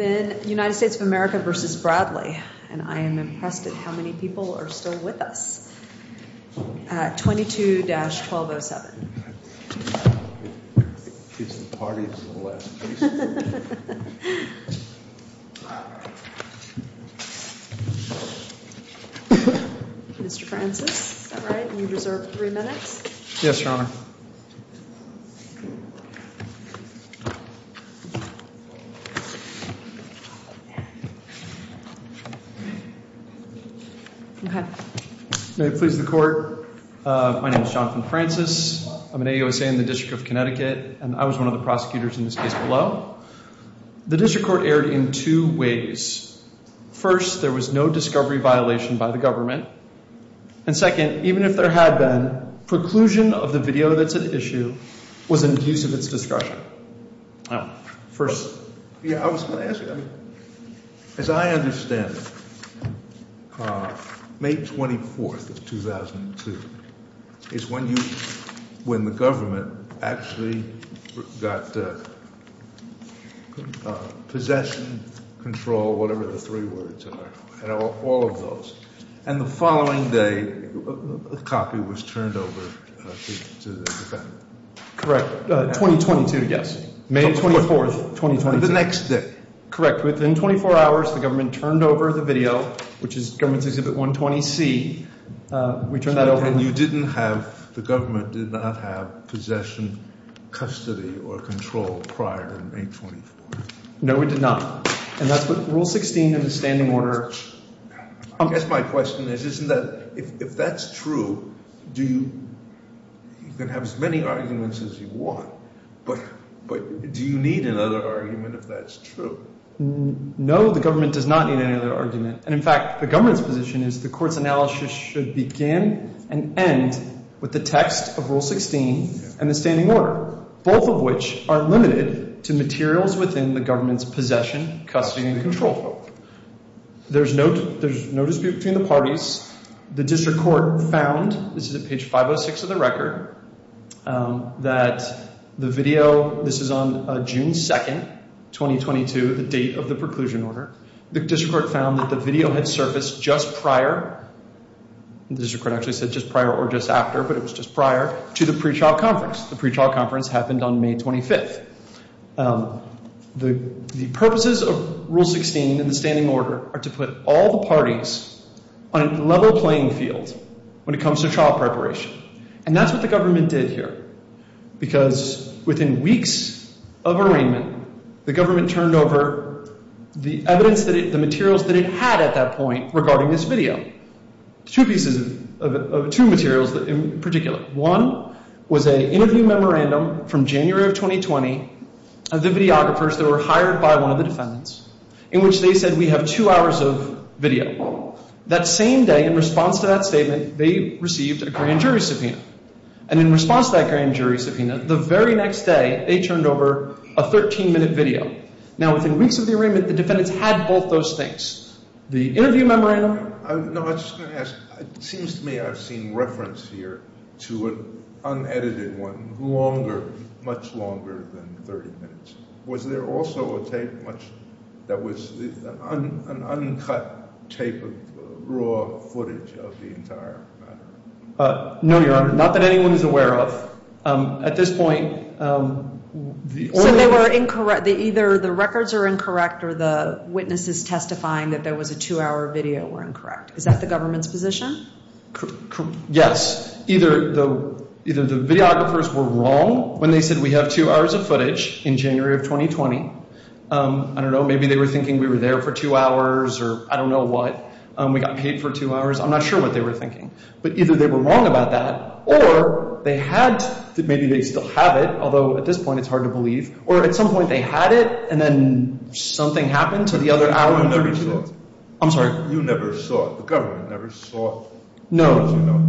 and I'm impressed at how many people are still with us. 22-1207. Mr. Francis, is that right? You reserve three minutes? Yes, Your Honor. May it please the court, my name is Jonathan Francis. I'm an AUSA in the District of Connecticut and I was one of the prosecutors in this case below. The District Court erred in two ways. First, there was no discovery violation by the government. And second, even if there had been, preclusion of the video that's at issue was an abuse of its discretion. As I understand it, May 24th of 2002 is when the government actually got possession, control, whatever the three words are, all of those. And the following day, the copy was turned over to the defendant. Correct. 2022, yes. May 24th, 2022. The next day. Correct. Within 24 hours, the government turned over the video, which is Government Exhibit 120C. We turned that over. And you didn't have, the government did not have possession, custody, or control prior to May 24th? No, we did not. And that's what Rule 16 of the standing order. I guess my question is, isn't that, if that's true, do you, you can have as many arguments as you want, but do you need another argument if that's true? No, the government does not need any other argument. And in fact, the government's position is the court's analysis should begin and end with the text of Rule 16 and the standing order, both of which are limited to materials within the government's possession, custody, and control. There's no dispute between the parties. The district court found, this is at page 506 of the record, that the video, this is on June 2nd, 2022, the date of the preclusion order. The district court found that the video had surfaced just prior, the district court actually said just prior or just after, but it was just prior to the pretrial conference. The pretrial conference happened on May 25th. The purposes of Rule 16 and the standing order are to put all the parties on a level playing field when it comes to trial preparation. And that's what the government did here, because within weeks of arraignment, the government turned over the evidence that it, the materials that it had at that point regarding this video. Two pieces of, two materials in particular. One was an interview memorandum from January of 2020 of the videographers that were hired by one of the defendants, in which they said, we have two hours of video. That same day, in response to that statement, they received a grand jury subpoena. And in response to that grand jury subpoena, the very next day, they turned over a 13-minute video. Now, within weeks of the arraignment, the defendants had both those things. The interview memorandum. No, I was just going to ask, it seems to me I've seen reference here to an unedited one, longer, much longer than 30 minutes. Was there also a tape much, that was an uncut tape of raw footage of the entire matter? No, Your Honor, not that anyone is aware of. At this point. So they were incorrect, either the records are incorrect or the witnesses testifying that there was a two-hour video were incorrect. Is that the government's position? Yes. Either the videographers were wrong when they said we have two hours of footage in January of 2020. I don't know, maybe they were thinking we were there for two hours or I don't know what. We got paid for two hours. I'm not sure what they were thinking. But either they were wrong about that or they had, maybe they still have it, although at this point it's hard to believe, or at some point they had it and then something happened to the other hour. You never saw it. I'm sorry? You never saw it. The government never saw it. No.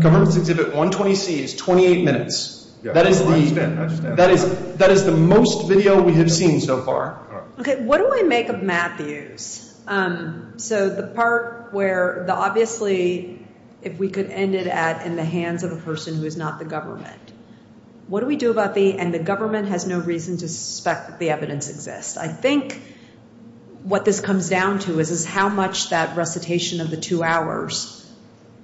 Government's exhibit 120C is 28 minutes. That is the most video we have seen so far. Okay, what do I make of Matthews? So the part where the obviously if we could end it at in the hands of a person who is not the government. What do we do about the and the government has no reason to suspect the evidence exists. I think what this comes down to is how much that recitation of the two hours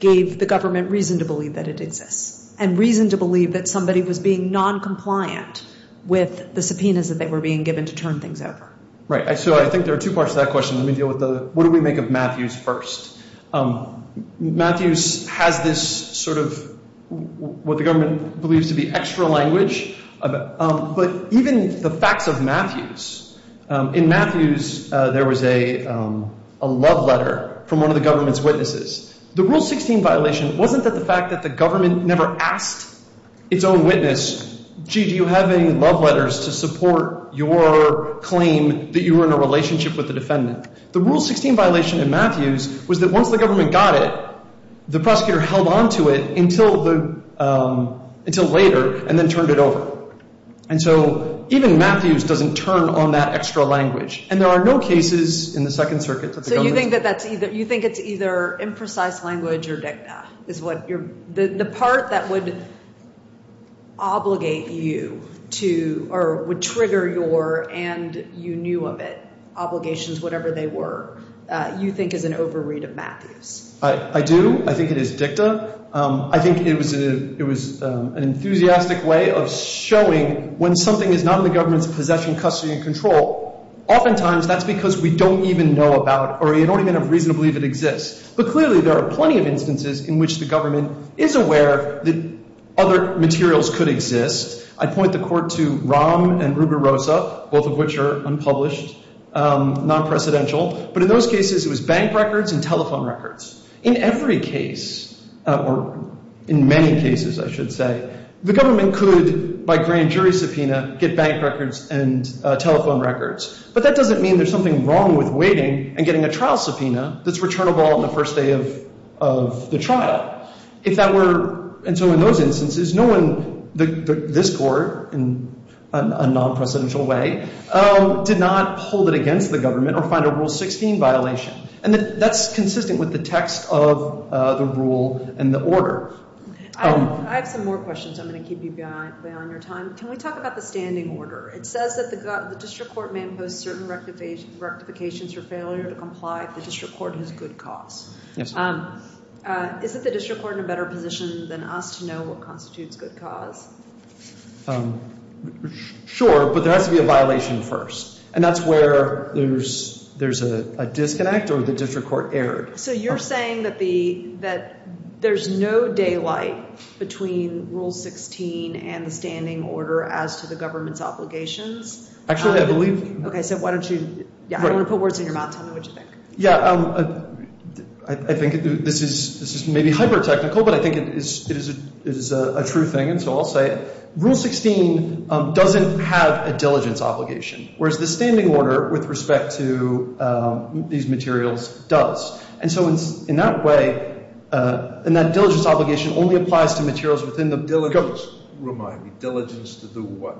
gave the government reason to believe that it exists and reason to believe that somebody was being noncompliant with the subpoenas that they were being given to turn things over. Right. So I think there are two parts to that question. Let me deal with the what do we make of Matthews first? Matthews has this sort of what the government believes to be extra language, but even the facts of Matthews. In Matthews there was a love letter from one of the government's witnesses. The Rule 16 violation wasn't that the fact that the government never asked its own witness, gee, do you have any love letters to support your claim that you were in a relationship with the defendant? The Rule 16 violation in Matthews was that once the government got it, the prosecutor held on to it until the until later and then turned it over. And so even Matthews doesn't turn on that extra language. And there are no cases in the Second Circuit. So you think that that's either you think it's either imprecise language or dicta is what you're the part that would. Obligate you to or would trigger your and you knew of it obligations, whatever they were, you think is an overread of Matthews. I do. I think it is dicta. I think it was it was an enthusiastic way of showing when something is not in the government's possession, custody and control. Oftentimes that's because we don't even know about or you don't even have reason to believe it exists. But clearly, there are plenty of instances in which the government is aware that other materials could exist. I point the court to ROM and Rubirosa, both of which are unpublished, non-presidential. But in those cases, it was bank records and telephone records. In every case or in many cases, I should say, the government could, by grand jury subpoena, get bank records and telephone records. But that doesn't mean there's something wrong with waiting and getting a trial subpoena that's returnable on the first day of the trial. If that were. And so in those instances, no one, this court in a non-presidential way, did not hold it against the government or find a rule 16 violation. And that's consistent with the text of the rule and the order. I have some more questions. I'm going to keep you behind your time. Can we talk about the standing order? It says that the district court may impose certain rectifications or failure to comply. The district court has good cause. Yes. Isn't the district court in a better position than us to know what constitutes good cause? Sure. But there has to be a violation first. And that's where there's there's a disconnect or the district court erred. So you're saying that the that there's no daylight between Rule 16 and the standing order as to the government's obligations. Actually, I believe. Okay. So why don't you want to put words in your mouth? Tell me what you think. Yeah, I think this is maybe hyper technical, but I think it is. It is a true thing. And so I'll say Rule 16 doesn't have a diligence obligation, whereas the standing order with respect to these materials does. And so in that way and that diligence obligation only applies to materials within the diligence. Remind me diligence to do what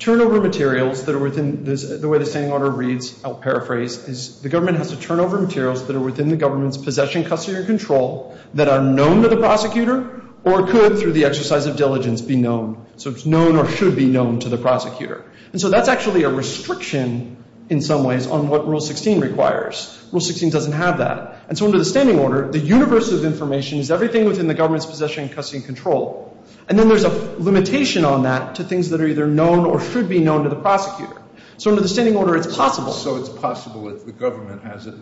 turnover materials that are within the way the standing order reads. I'll paraphrase is the government has to turn over materials that are within the government's possession, custody or control that are known to the prosecutor or could through the exercise of diligence be known. So it's known or should be known to the prosecutor. And so that's actually a restriction in some ways on what Rule 16 requires. Rule 16 doesn't have that. And so under the standing order, the universe of information is everything within the government's possession, custody and control. And then there's a limitation on that to things that are either known or should be known to the prosecutor. So under the standing order, it's possible. So it's possible that the government has a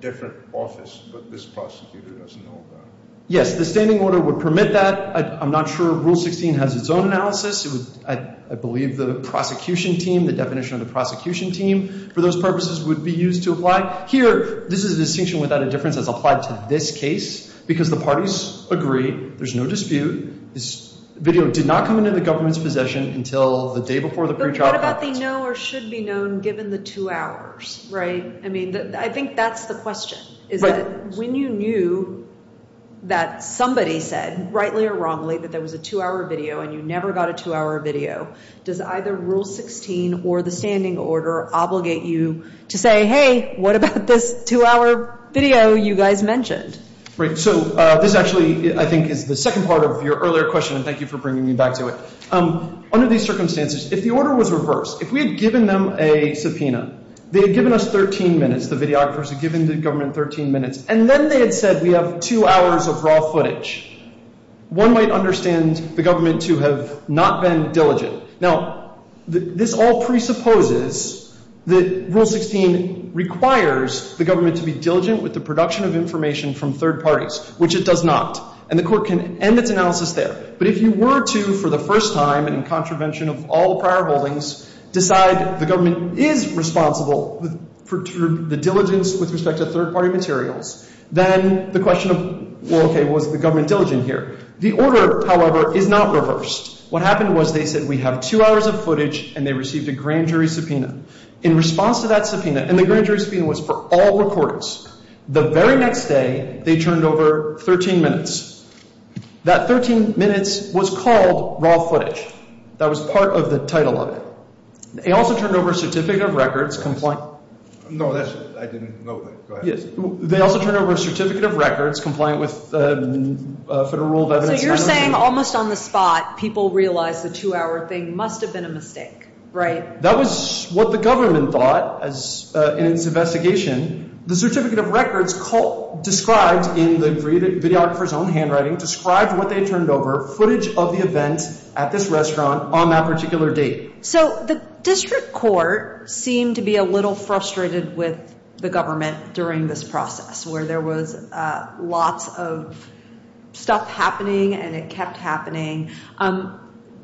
different office. But this prosecutor doesn't know that. Yes, the standing order would permit that. I'm not sure Rule 16 has its own analysis. I believe the prosecution team, the definition of the prosecution team for those purposes would be used to apply here. This is a distinction without a difference as applied to this case because the parties agree there's no dispute. This video did not come into the government's possession until the day before the pre-trial. But what about the know or should be known given the two hours? Right. I mean, I think that's the question. Is that when you knew that somebody said rightly or wrongly that there was a two hour video and you never got a two hour video, does either Rule 16 or the standing order obligate you to say, hey, what about this two hour video you guys mentioned? Right. So this actually, I think, is the second part of your earlier question. And thank you for bringing me back to it. Under these circumstances, if the order was reversed, if we had given them a subpoena, they had given us 13 minutes. The videographers had given the government 13 minutes. And then they had said we have two hours of raw footage. One might understand the government to have not been diligent. Now, this all presupposes that Rule 16 requires the government to be diligent with the production of information from third parties, which it does not. And the court can end its analysis there. But if you were to, for the first time and in contravention of all prior holdings, decide the government is responsible for the diligence with respect to third party materials, then the question of, well, okay, was the government diligent here? The order, however, is not reversed. What happened was they said we have two hours of footage and they received a grand jury subpoena. In response to that subpoena, and the grand jury subpoena was for all recordings, the very next day they turned over 13 minutes. That 13 minutes was called raw footage. That was part of the title of it. They also turned over a certificate of records compliant with federal rule of evidence. So you're saying almost on the spot people realized the two-hour thing must have been a mistake, right? That was what the government thought in its investigation. The certificate of records described in the videographer's own handwriting described what they turned over, footage of the event at this restaurant on that particular date. So the district court seemed to be a little frustrated with the government during this process where there was lots of stuff happening and it kept happening.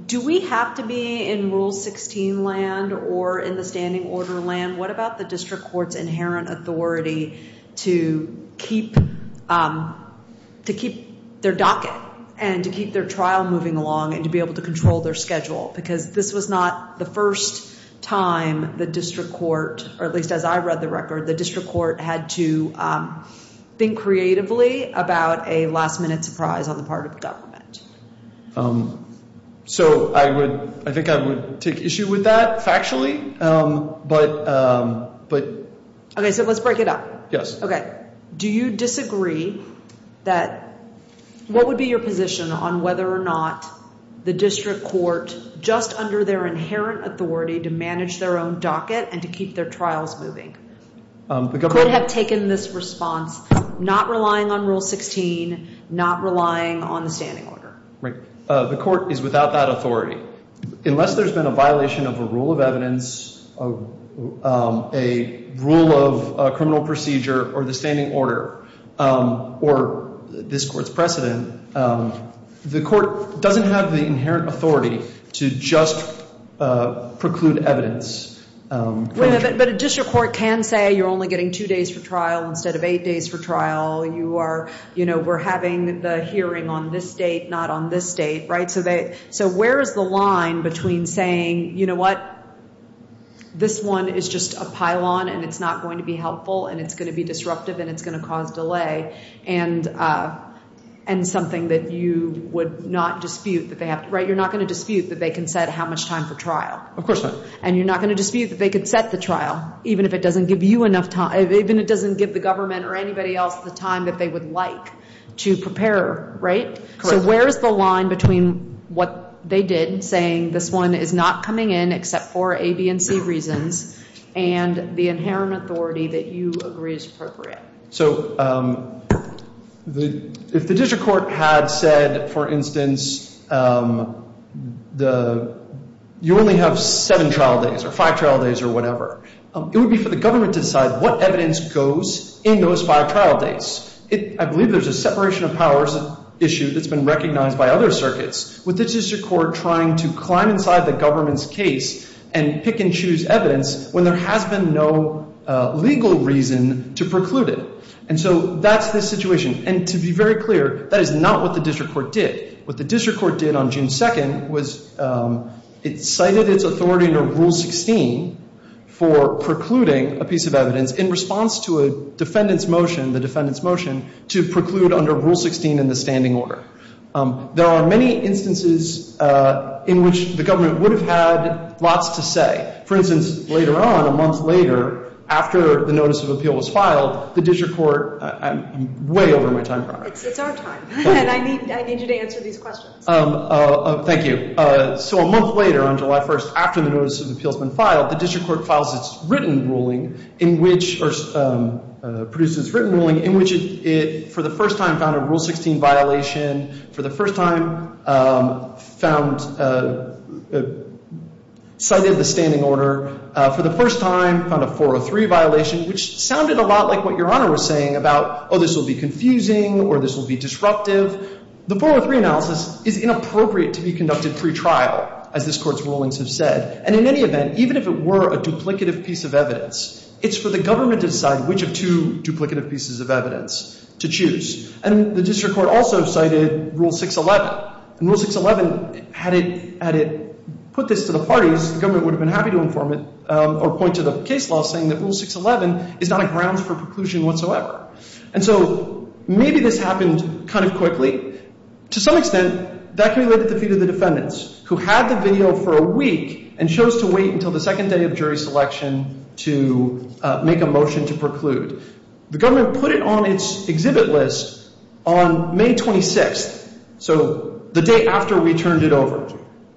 Do we have to be in Rule 16 land or in the standing order land? What about the district court's inherent authority to keep their docket and to keep their trial moving along and to be able to control their schedule? Because this was not the first time the district court, or at least as I read the record, the district court had to think creatively about a last-minute surprise on the part of the government. So I think I would take issue with that factually. Okay, so let's break it up. Yes. Okay. Do you disagree that what would be your position on whether or not the district court, just under their inherent authority to manage their own docket and to keep their trials moving, could have taken this response not relying on Rule 16, not relying on the standing order? The court is without that authority. Unless there's been a violation of a rule of evidence, a rule of criminal procedure, or the standing order, or this court's precedent, the court doesn't have the inherent authority to just preclude evidence. But a district court can say you're only getting two days for trial instead of eight days for trial. You are, you know, we're having the hearing on this date, not on this date, right? So where is the line between saying, you know what, this one is just a pylon, and it's not going to be helpful, and it's going to be disruptive, and it's going to cause delay, and something that you would not dispute that they have to, right? You're not going to dispute that they can set how much time for trial. Of course not. And you're not going to dispute that they could set the trial, even if it doesn't give you enough time, even if it doesn't give the government or anybody else the time that they would like to prepare, right? Correct. So where is the line between what they did, saying this one is not coming in except for A, B, and C reasons, and the inherent authority that you agree is appropriate? So if the district court had said, for instance, you only have seven trial days or five trial days or whatever, it would be for the government to decide what evidence goes in those five trial days. I believe there's a separation of powers issue that's been recognized by other circuits with the district court trying to climb inside the government's case and pick and choose evidence when there has been no legal reason to preclude it. And so that's the situation. And to be very clear, that is not what the district court did. What the district court did on June 2nd was it cited its authority under Rule 16 for precluding a piece of evidence in response to a defendant's motion, the defendant's motion, to preclude under Rule 16 in the standing order. There are many instances in which the government would have had lots to say. For instance, later on, a month later, after the notice of appeal was filed, the district court – I'm way over my time. It's our time. And I need you to answer these questions. Thank you. So a month later, on July 1st, after the notice of appeal has been filed, the district court files its written ruling in which – or produces its written ruling in which it, for the first time, found a Rule 16 violation. For the first time, found – cited the standing order. For the first time, found a 403 violation, which sounded a lot like what Your Honor was saying about, oh, this will be confusing or this will be disruptive. The 403 analysis is inappropriate to be conducted pretrial, as this Court's rulings have said. And in any event, even if it were a duplicative piece of evidence, it's for the government to decide which of two duplicative pieces of evidence to choose. And the district court also cited Rule 611. And Rule 611, had it put this to the parties, the government would have been happy to inform it or point to the case law saying that Rule 611 is not a grounds for preclusion whatsoever. And so maybe this happened kind of quickly. To some extent, that can be related to the view of the defendants who had the video for a week and chose to wait until the second day of jury selection to make a motion to preclude. The government put it on its exhibit list on May 26th, so the day after we turned it over.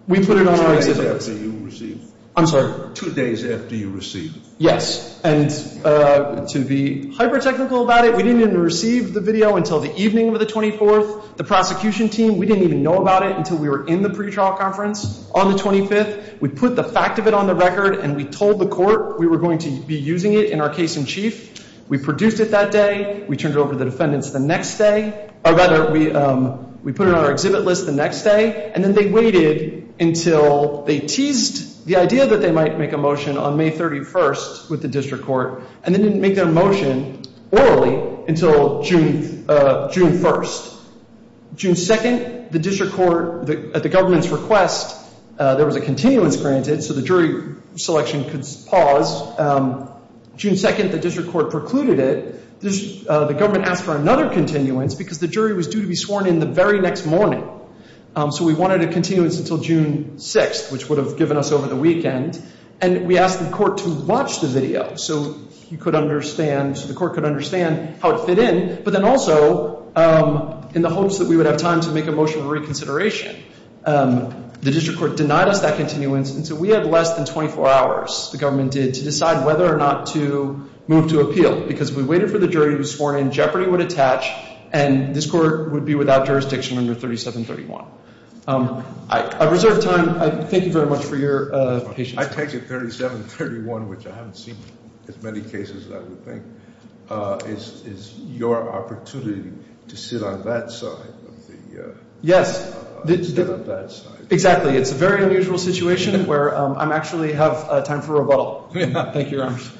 We put it on our exhibit list. Two days after you received it. I'm sorry? Two days after you received it. Yes. And to be hyper-technical about it, we didn't even receive the video until the evening of the 24th. The prosecution team, we didn't even know about it until we were in the pretrial conference on the 25th. We put the fact of it on the record and we told the court we were going to be using it in our case in chief. We produced it that day. We turned it over to the defendants the next day. Or rather, we put it on our exhibit list the next day. And then they waited until they teased the idea that they might make a motion on May 31st with the district court. And they didn't make their motion orally until June 1st. June 2nd, the district court, at the government's request, there was a continuance granted so the jury selection could pause. June 2nd, the district court precluded it. The government asked for another continuance because the jury was due to be sworn in the very next morning. So we wanted a continuance until June 6th, which would have given us over the weekend. And we asked the court to watch the video so you could understand, so the court could understand how it fit in. But then also, in the hopes that we would have time to make a motion of reconsideration, the district court denied us that continuance. And so we had less than 24 hours, the government did, to decide whether or not to move to appeal. Because we waited for the jury to be sworn in, jeopardy would attach, and this court would be without jurisdiction under 3731. I reserve time. Thank you very much for your patience. I take it 3731, which I haven't seen as many cases as I would think, is your opportunity to sit on that side. Yes. Exactly. It's a very unusual situation where I actually have time for rebuttal. Thank you, Your Honors.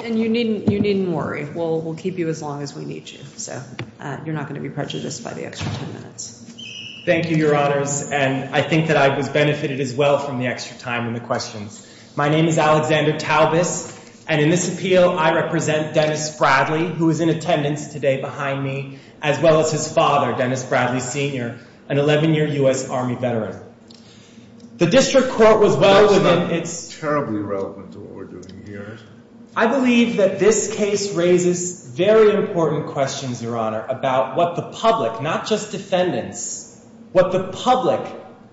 And you needn't worry. We'll keep you as long as we need you. So you're not going to be prejudiced by the extra ten minutes. Thank you, Your Honors. And I think that I was benefited as well from the extra time and the questions. My name is Alexander Talbis. And in this appeal, I represent Dennis Bradley, who is in attendance today behind me, as well as his father, Dennis Bradley Sr., an 11-year U.S. Army veteran. The district court was well within its— That's not terribly relevant to what we're doing here. I believe that this case raises very important questions, Your Honor, about what the public, not just defendants, what the public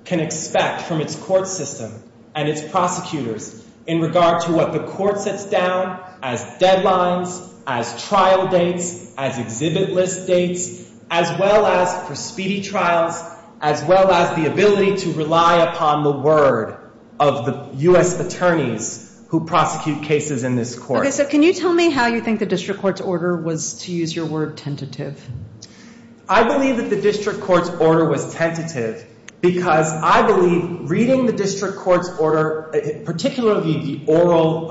can expect from its court system and its prosecutors in regard to what the court sets down as deadlines, as trial dates, as exhibit list dates, as well as for speedy trials, as well as the ability to rely upon the word of the U.S. attorneys who prosecute cases in this court. Okay. So can you tell me how you think the district court's order was, to use your word, tentative? I believe that the district court's order was tentative because I believe reading the district court's order, particularly the oral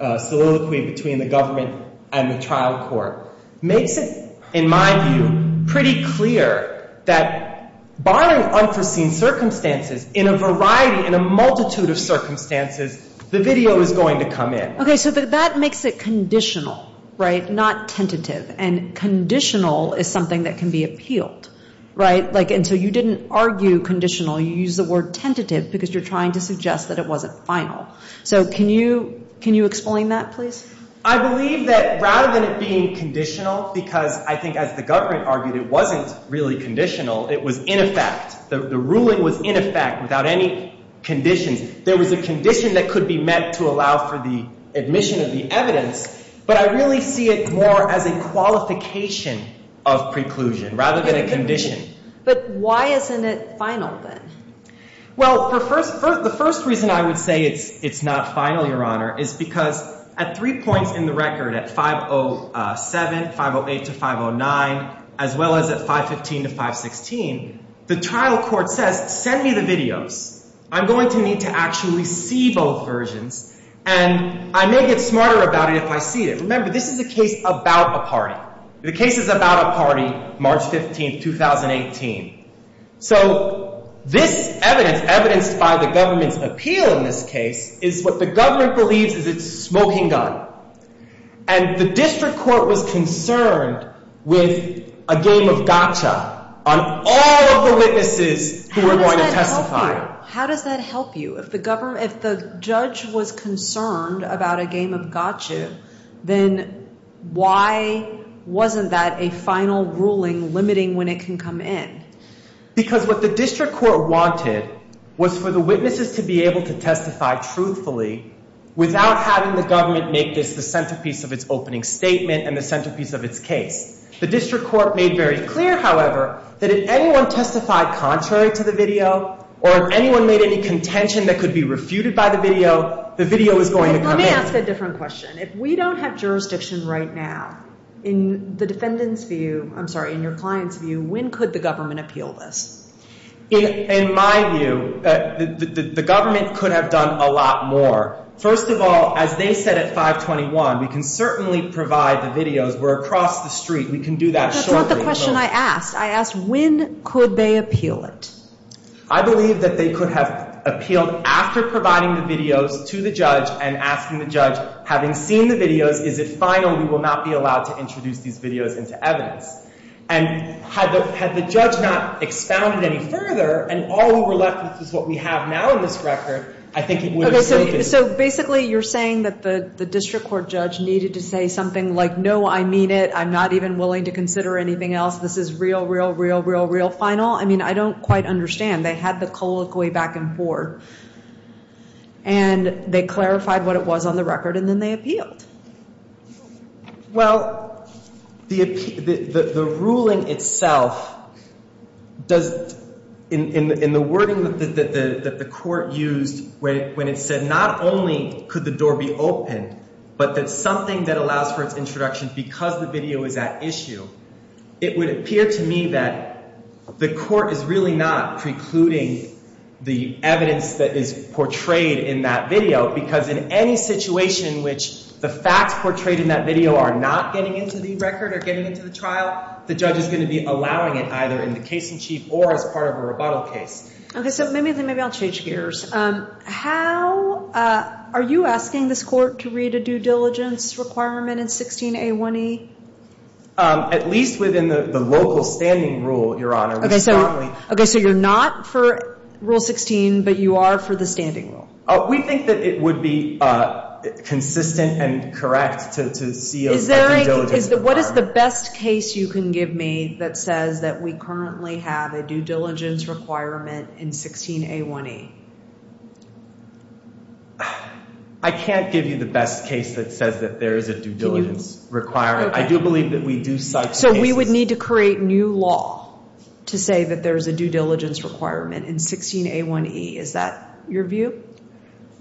soliloquy between the government and the trial court, makes it, in my view, pretty clear that barring unforeseen circumstances, in a variety, in a multitude of circumstances, the video is going to come in. Okay. So that makes it conditional, right, not tentative. And conditional is something that can be appealed, right? And so you didn't argue conditional. You used the word tentative because you're trying to suggest that it wasn't final. So can you explain that, please? I believe that rather than it being conditional, because I think, as the government argued, it wasn't really conditional. It was in effect. The ruling was in effect without any conditions. There was a condition that could be met to allow for the admission of the evidence, but I really see it more as a qualification of preclusion rather than a condition. But why isn't it final, then? Well, the first reason I would say it's not final, Your Honor, is because at three points in the record, at 507, 508 to 509, as well as at 515 to 516, the trial court says, send me the videos. I'm going to need to actually see both versions, and I may get smarter about it if I see it. Remember, this is a case about a party. The case is about a party, March 15, 2018. So this evidence, evidenced by the government's appeal in this case, is what the government believes is a smoking gun. And the district court was concerned with a game of gotcha on all of the witnesses who were going to testify. How does that help you? If the judge was concerned about a game of gotcha, then why wasn't that a final ruling limiting when it can come in? Because what the district court wanted was for the witnesses to be able to testify truthfully without having the government make this the centerpiece of its opening statement and the centerpiece of its case. The district court made very clear, however, that if anyone testified contrary to the video or if anyone made any contention that could be refuted by the video, the video is going to come in. Let me ask a different question. If we don't have jurisdiction right now, in the defendant's view, I'm sorry, in your client's view, when could the government appeal this? In my view, the government could have done a lot more. First of all, as they said at 521, we can certainly provide the videos. We're across the street. We can do that shortly. That's not the question I asked. I asked when could they appeal it? I believe that they could have appealed after providing the videos to the judge and asking the judge, having seen the videos, is it final we will not be allowed to introduce these videos into evidence? And had the judge not expounded any further and all we were left with is what we have now in this record, I think it would have saved it. So basically you're saying that the district court judge needed to say something like, no, I mean it. I'm not even willing to consider anything else. This is real, real, real, real, real final. I mean, I don't quite understand. They had the colloquy back and forth. And they clarified what it was on the record and then they appealed. Well, the ruling itself does in the wording that the court used when it said not only could the door be opened, but that something that allows for its introduction because the video is at issue. It would appear to me that the court is really not precluding the evidence that is portrayed in that video because in any situation in which the facts portrayed in that video are not getting into the record or getting into the trial, the judge is going to be allowing it either in the case in chief or as part of a rebuttal case. OK, so maybe I'll change gears. How are you asking this court to read a due diligence requirement in 16A1E? At least within the local standing rule, Your Honor. OK, so you're not for Rule 16, but you are for the standing rule. We think that it would be consistent and correct to see a due diligence requirement. I can't give you the best case that says that there is a due diligence requirement. I do believe that we do such. So we would need to create new law to say that there is a due diligence requirement in 16A1E. Is that your view?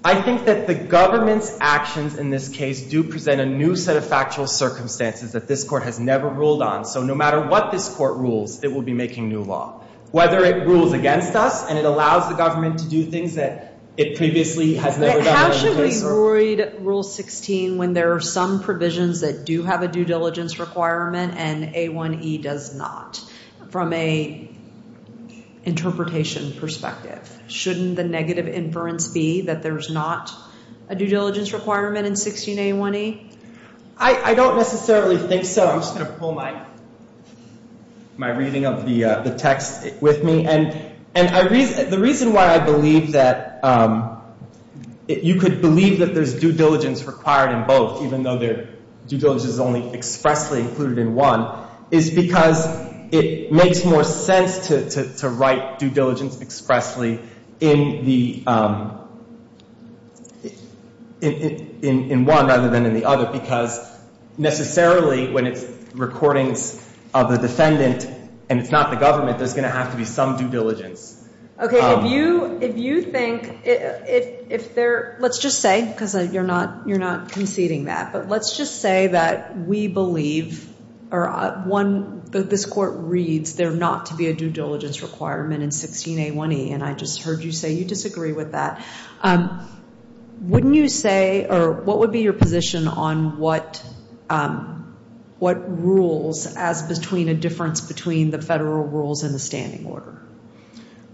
I think that the government's actions in this case do present a new set of factual circumstances that this court has never ruled on. So no matter what this court rules, it will be making new law, whether it rules against us and it allows the government to do things that it previously has never done. How should we avoid Rule 16 when there are some provisions that do have a due diligence requirement and A1E does not? From an interpretation perspective, shouldn't the negative inference be that there's not a due diligence requirement in 16A1E? I don't necessarily think so. I'm just going to pull my reading of the text with me. And the reason why I believe that you could believe that there's due diligence required in both, even though due diligence is only expressly included in one, is because it makes more sense to write due diligence expressly in the, in one rather than in the other, because necessarily when it's recordings of the defendant and it's not the government, there's going to have to be some due diligence. Okay, if you, if you think, if there, let's just say, because you're not, you're not conceding that, but let's just say that we believe, or one, that this court reads there not to be a due diligence requirement in 16A1E. And I just heard you say you disagree with that. Wouldn't you say, or what would be your position on what, what rules as between a difference between the federal rules and the standing order?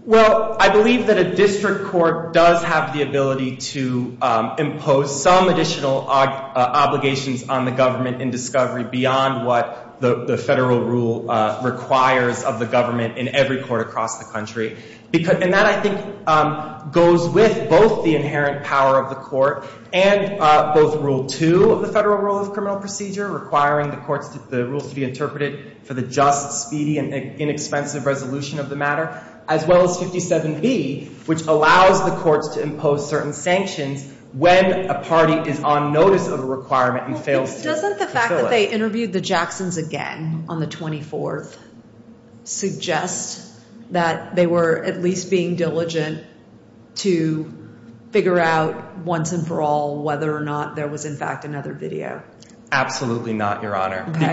Well, I believe that a district court does have the ability to impose some additional obligations on the government in discovery beyond what the federal rule requires of the government in every court across the country. And that, I think, goes with both the inherent power of the court and both Rule 2 of the Federal Rule of Criminal Procedure requiring the courts, the rules to be interpreted for the just, speedy, and inexpensive resolution of the matter, as well as 57B, which allows the courts to impose certain sanctions when a party is on notice of a requirement and fails to fulfill it. Would you say interviewed the Jacksons again on the 24th suggests that they were at least being diligent to figure out once and for all whether or not there was, in fact, another video? Absolutely not, Your Honor. Okay. Would it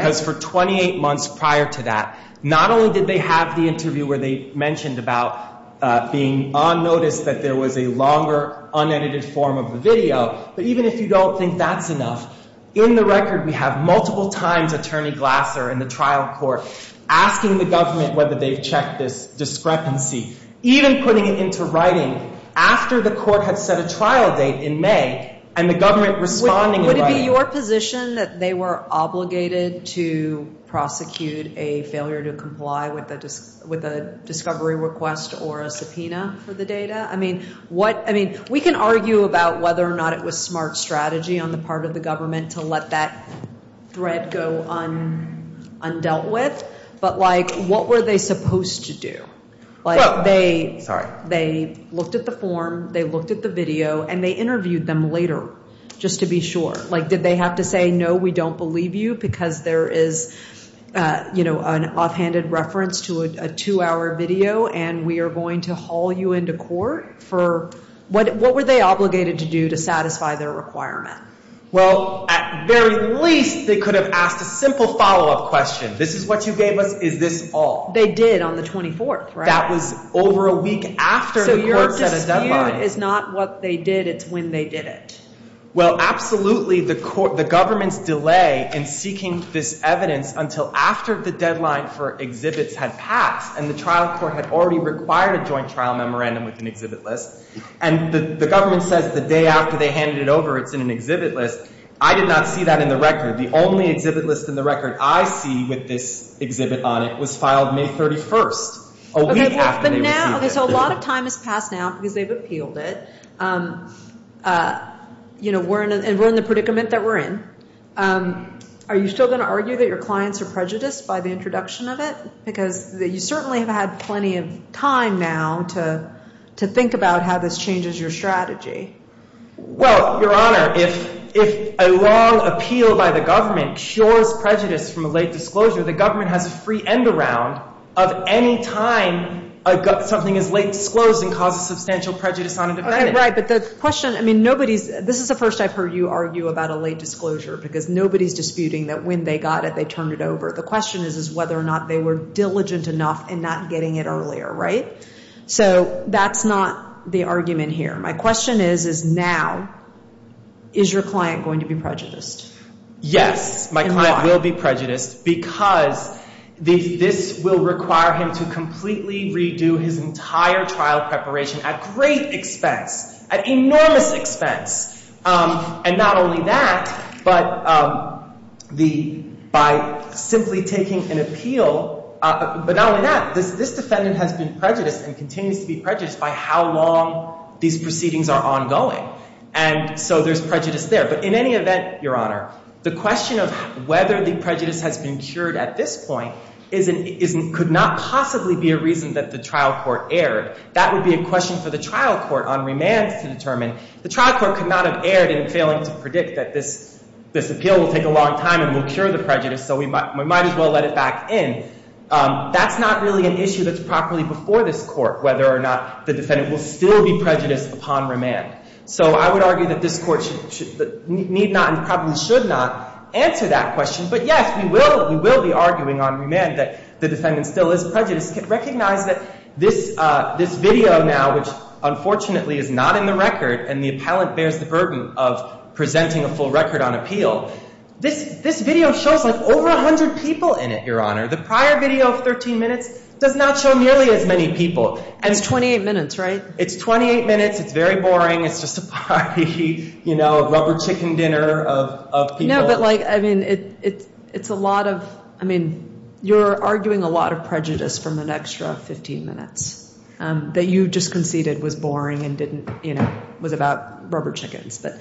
be your position that they were obligated to prosecute a failure to comply with a discovery request or a subpoena for the data? I mean, we can argue about whether or not it was smart strategy on the part of the government to let that thread go undealt with, but what were they supposed to do? They looked at the form, they looked at the video, and they interviewed them later just to be sure. Did they have to say, no, we don't believe you because there is an offhanded reference to a two-hour video and we are going to haul you into court? What were they obligated to do to satisfy their requirement? Well, at very least, they could have asked a simple follow-up question. This is what you gave us? Is this all? They did on the 24th, right? That was over a week after the court set a deadline. So your dispute is not what they did, it's when they did it? Well, absolutely. The government's delay in seeking this evidence until after the deadline for exhibits had passed and the trial court had already required a joint trial memorandum with an exhibit list. And the government says the day after they handed it over it's in an exhibit list. I did not see that in the record. The only exhibit list in the record I see with this exhibit on it was filed May 31st. A week after they received it. So a lot of time has passed now because they've appealed it. And we're in the predicament that we're in. Are you still going to argue that your clients are prejudiced by the introduction of it? Because you certainly have had plenty of time now to think about how this changes your strategy. Well, Your Honor, if a long appeal by the government cures prejudice from a late disclosure, the government has a free end around of any time something is late disclosed and causes substantial prejudice on a defendant. Right, but the question, I mean, nobody's, this is the first I've heard you argue about a late disclosure because nobody's disputing that when they got it they turned it over. The question is whether or not they were diligent enough in not getting it earlier, right? So that's not the argument here. My question is, is now, is your client going to be prejudiced? Yes, my client will be prejudiced because this will require him to completely redo his entire trial preparation at great expense. At enormous expense. And not only that, but by simply taking an appeal, but not only that, this defendant has been prejudiced and continues to be prejudiced by how long these proceedings are ongoing. And so there's prejudice there. But in any event, Your Honor, the question of whether the prejudice has been cured at this point could not possibly be a reason that the trial court erred. That would be a question for the trial court on remand to determine. The trial court could not have erred in failing to predict that this appeal will take a long time and will cure the prejudice, so we might as well let it back in. That's not really an issue that's properly before this Court, whether or not the defendant will still be prejudiced upon remand. So I would argue that this Court need not and probably should not answer that question. But yes, we will be arguing on remand that the defendant still is prejudiced. Recognize that this video now, which unfortunately is not in the record, and the appellant bears the burden of presenting a full record on appeal, this video shows like over 100 people in it, Your Honor. The prior video of 13 minutes does not show nearly as many people. It's 28 minutes, right? It's 28 minutes. It's very boring. It's just a party, you know, a rubber chicken dinner of people. No, but like, I mean, it's a lot of, I mean, you're arguing a lot of prejudice from an extra 15 minutes that you just conceded was boring and didn't, you know, was about rubber chickens. But,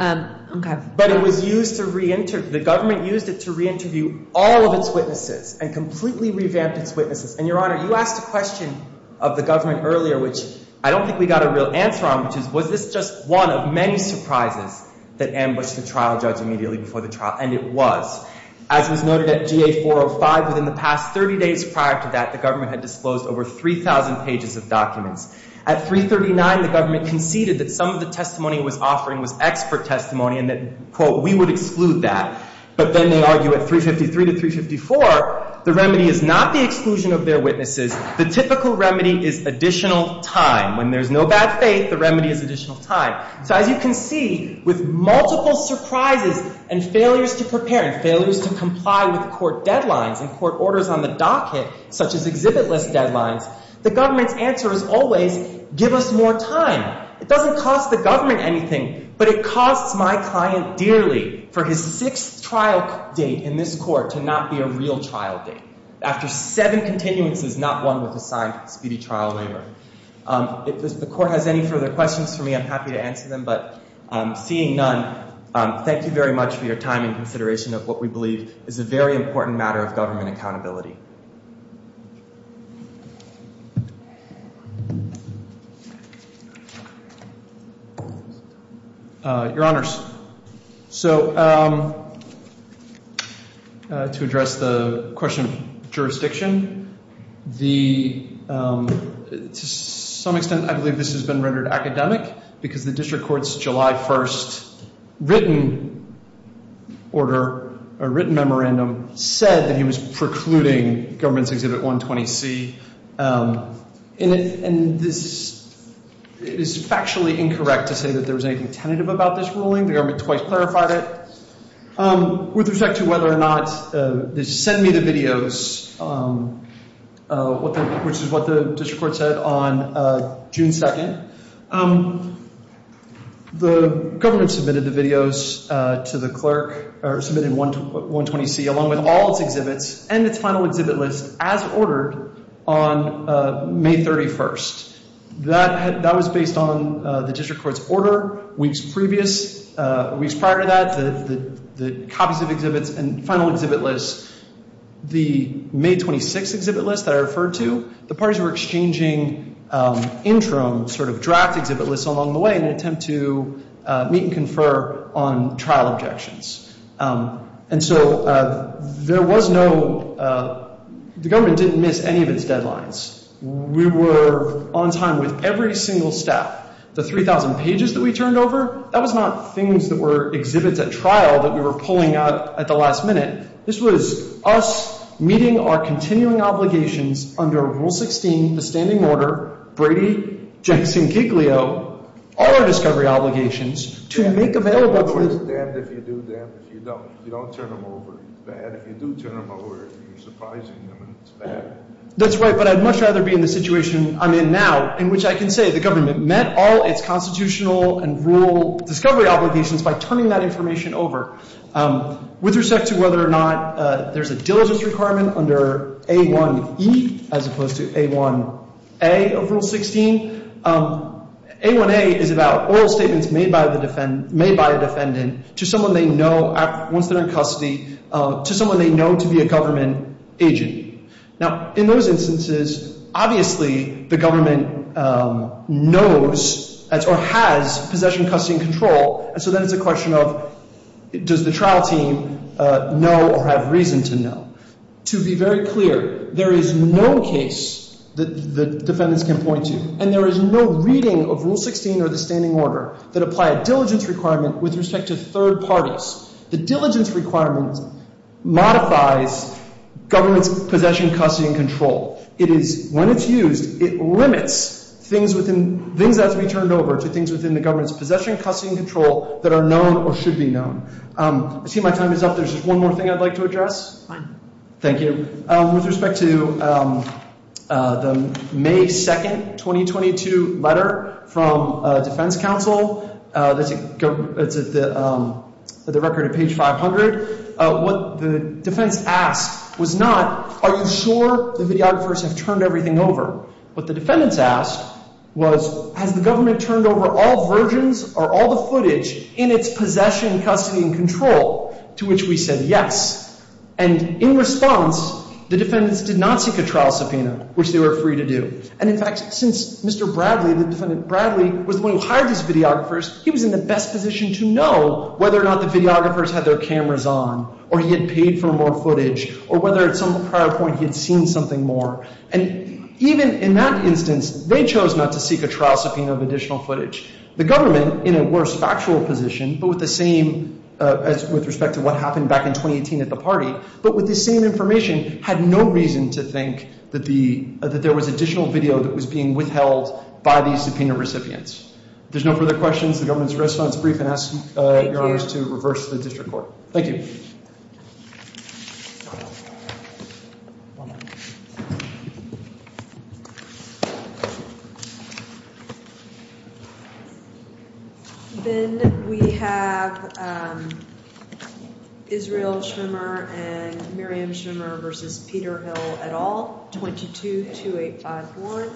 okay. But it was used to reinterview, the government used it to reinterview all of its witnesses and completely revamped its witnesses. And, Your Honor, you asked a question of the government earlier, which I don't think we got a real answer on, which is, was this just one of many surprises that ambushed the trial judge immediately before the trial? And it was. As was noted at GA-405, within the past 30 days prior to that, the government had disclosed over 3,000 pages of documents. At 339, the government conceded that some of the testimony it was offering was expert testimony and that, quote, we would exclude that. But then they argue at 353 to 354, the remedy is not the exclusion of their witnesses. The typical remedy is additional time. When there's no bad faith, the remedy is additional time. So as you can see, with multiple surprises and failures to prepare and failures to comply with court deadlines and court orders on the docket, such as exhibit list deadlines, the government's answer is always, give us more time. It doesn't cost the government anything, but it costs my client dearly for his sixth trial date in this court to not be a real trial date, after seven continuances, not one with a signed speedy trial waiver. If the court has any further questions for me, I'm happy to answer them. But seeing none, thank you very much for your time and consideration of what we believe is a very important matter of government accountability. Your Honors, so to address the question of jurisdiction, to some extent, I believe this has been rendered academic, because the district court's July 1st written order or written memorandum said that he was precluding a trial date. Precluding government's exhibit 120C. And this is factually incorrect to say that there was anything tentative about this ruling. The government twice clarified it. With respect to whether or not this sent me the videos, which is what the district court said on June 2nd, the government submitted the videos to the clerk, or submitted 120C, along with all its exhibits and its final exhibit list, as ordered on May 31st. That was based on the district court's order weeks prior to that, the copies of exhibits and final exhibit list. The May 26th exhibit list that I referred to, the parties were exchanging interim sort of draft exhibit lists along the way in an attempt to meet and confer on trial objections. And so there was no, the government didn't miss any of its deadlines. We were on time with every single step. The 3,000 pages that we turned over, that was not things that were exhibits at trial that we were pulling out at the last minute. This was us meeting our continuing obligations under Rule 16, the standing order, Brady, Jackson, Giglio, all our discovery obligations to make available. If you do them, if you don't, you don't turn them over. If you do turn them over, you're surprising them, and it's bad. That's right, but I'd much rather be in the situation I'm in now, in which I can say the government met all its constitutional and rule discovery obligations by turning that information over. With respect to whether or not there's a diligence requirement under A1E as opposed to A1A of Rule 16, A1A is about oral statements made by a defendant to someone they know once they're in custody, to someone they know to be a government agent. Now, in those instances, obviously, the government knows or has possession, custody, and control, and so then it's a question of does the trial team know or have reason to know. To be very clear, there is no case that the defendants can point to, and there is no reading of Rule 16 or the standing order that apply a diligence requirement with respect to third parties. The diligence requirement modifies government's possession, custody, and control. It is when it's used, it limits things that have to be turned over to things within the government's possession, custody, and control that are known or should be known. I see my time is up. There's just one more thing I'd like to address. Fine. Thank you. With respect to the May 2nd, 2022 letter from defense counsel that's at the record at page 500, what the defense asked was not are you sure the videographers have turned everything over. What the defendants asked was has the government turned over all versions or all the footage in its possession, custody, and control, to which we said yes. And in response, the defendants did not seek a trial subpoena, which they were free to do. And, in fact, since Mr. Bradley, the defendant Bradley, was the one who hired these videographers, he was in the best position to know whether or not the videographers had their cameras on or he had paid for more footage or whether at some prior point he had seen something more. And even in that instance, they chose not to seek a trial subpoena of additional footage. The government, in a worse factual position, but with the same as with respect to what happened back in 2018 at the party, but with the same information, had no reason to think that there was additional video that was being withheld by these subpoena recipients. There's no further questions. The government's response is brief. And I ask your Honors to reverse to the district court. Thank you. Then we have Israel Schrimmer and Miriam Schrimmer v. Peter Hill et al., 222851.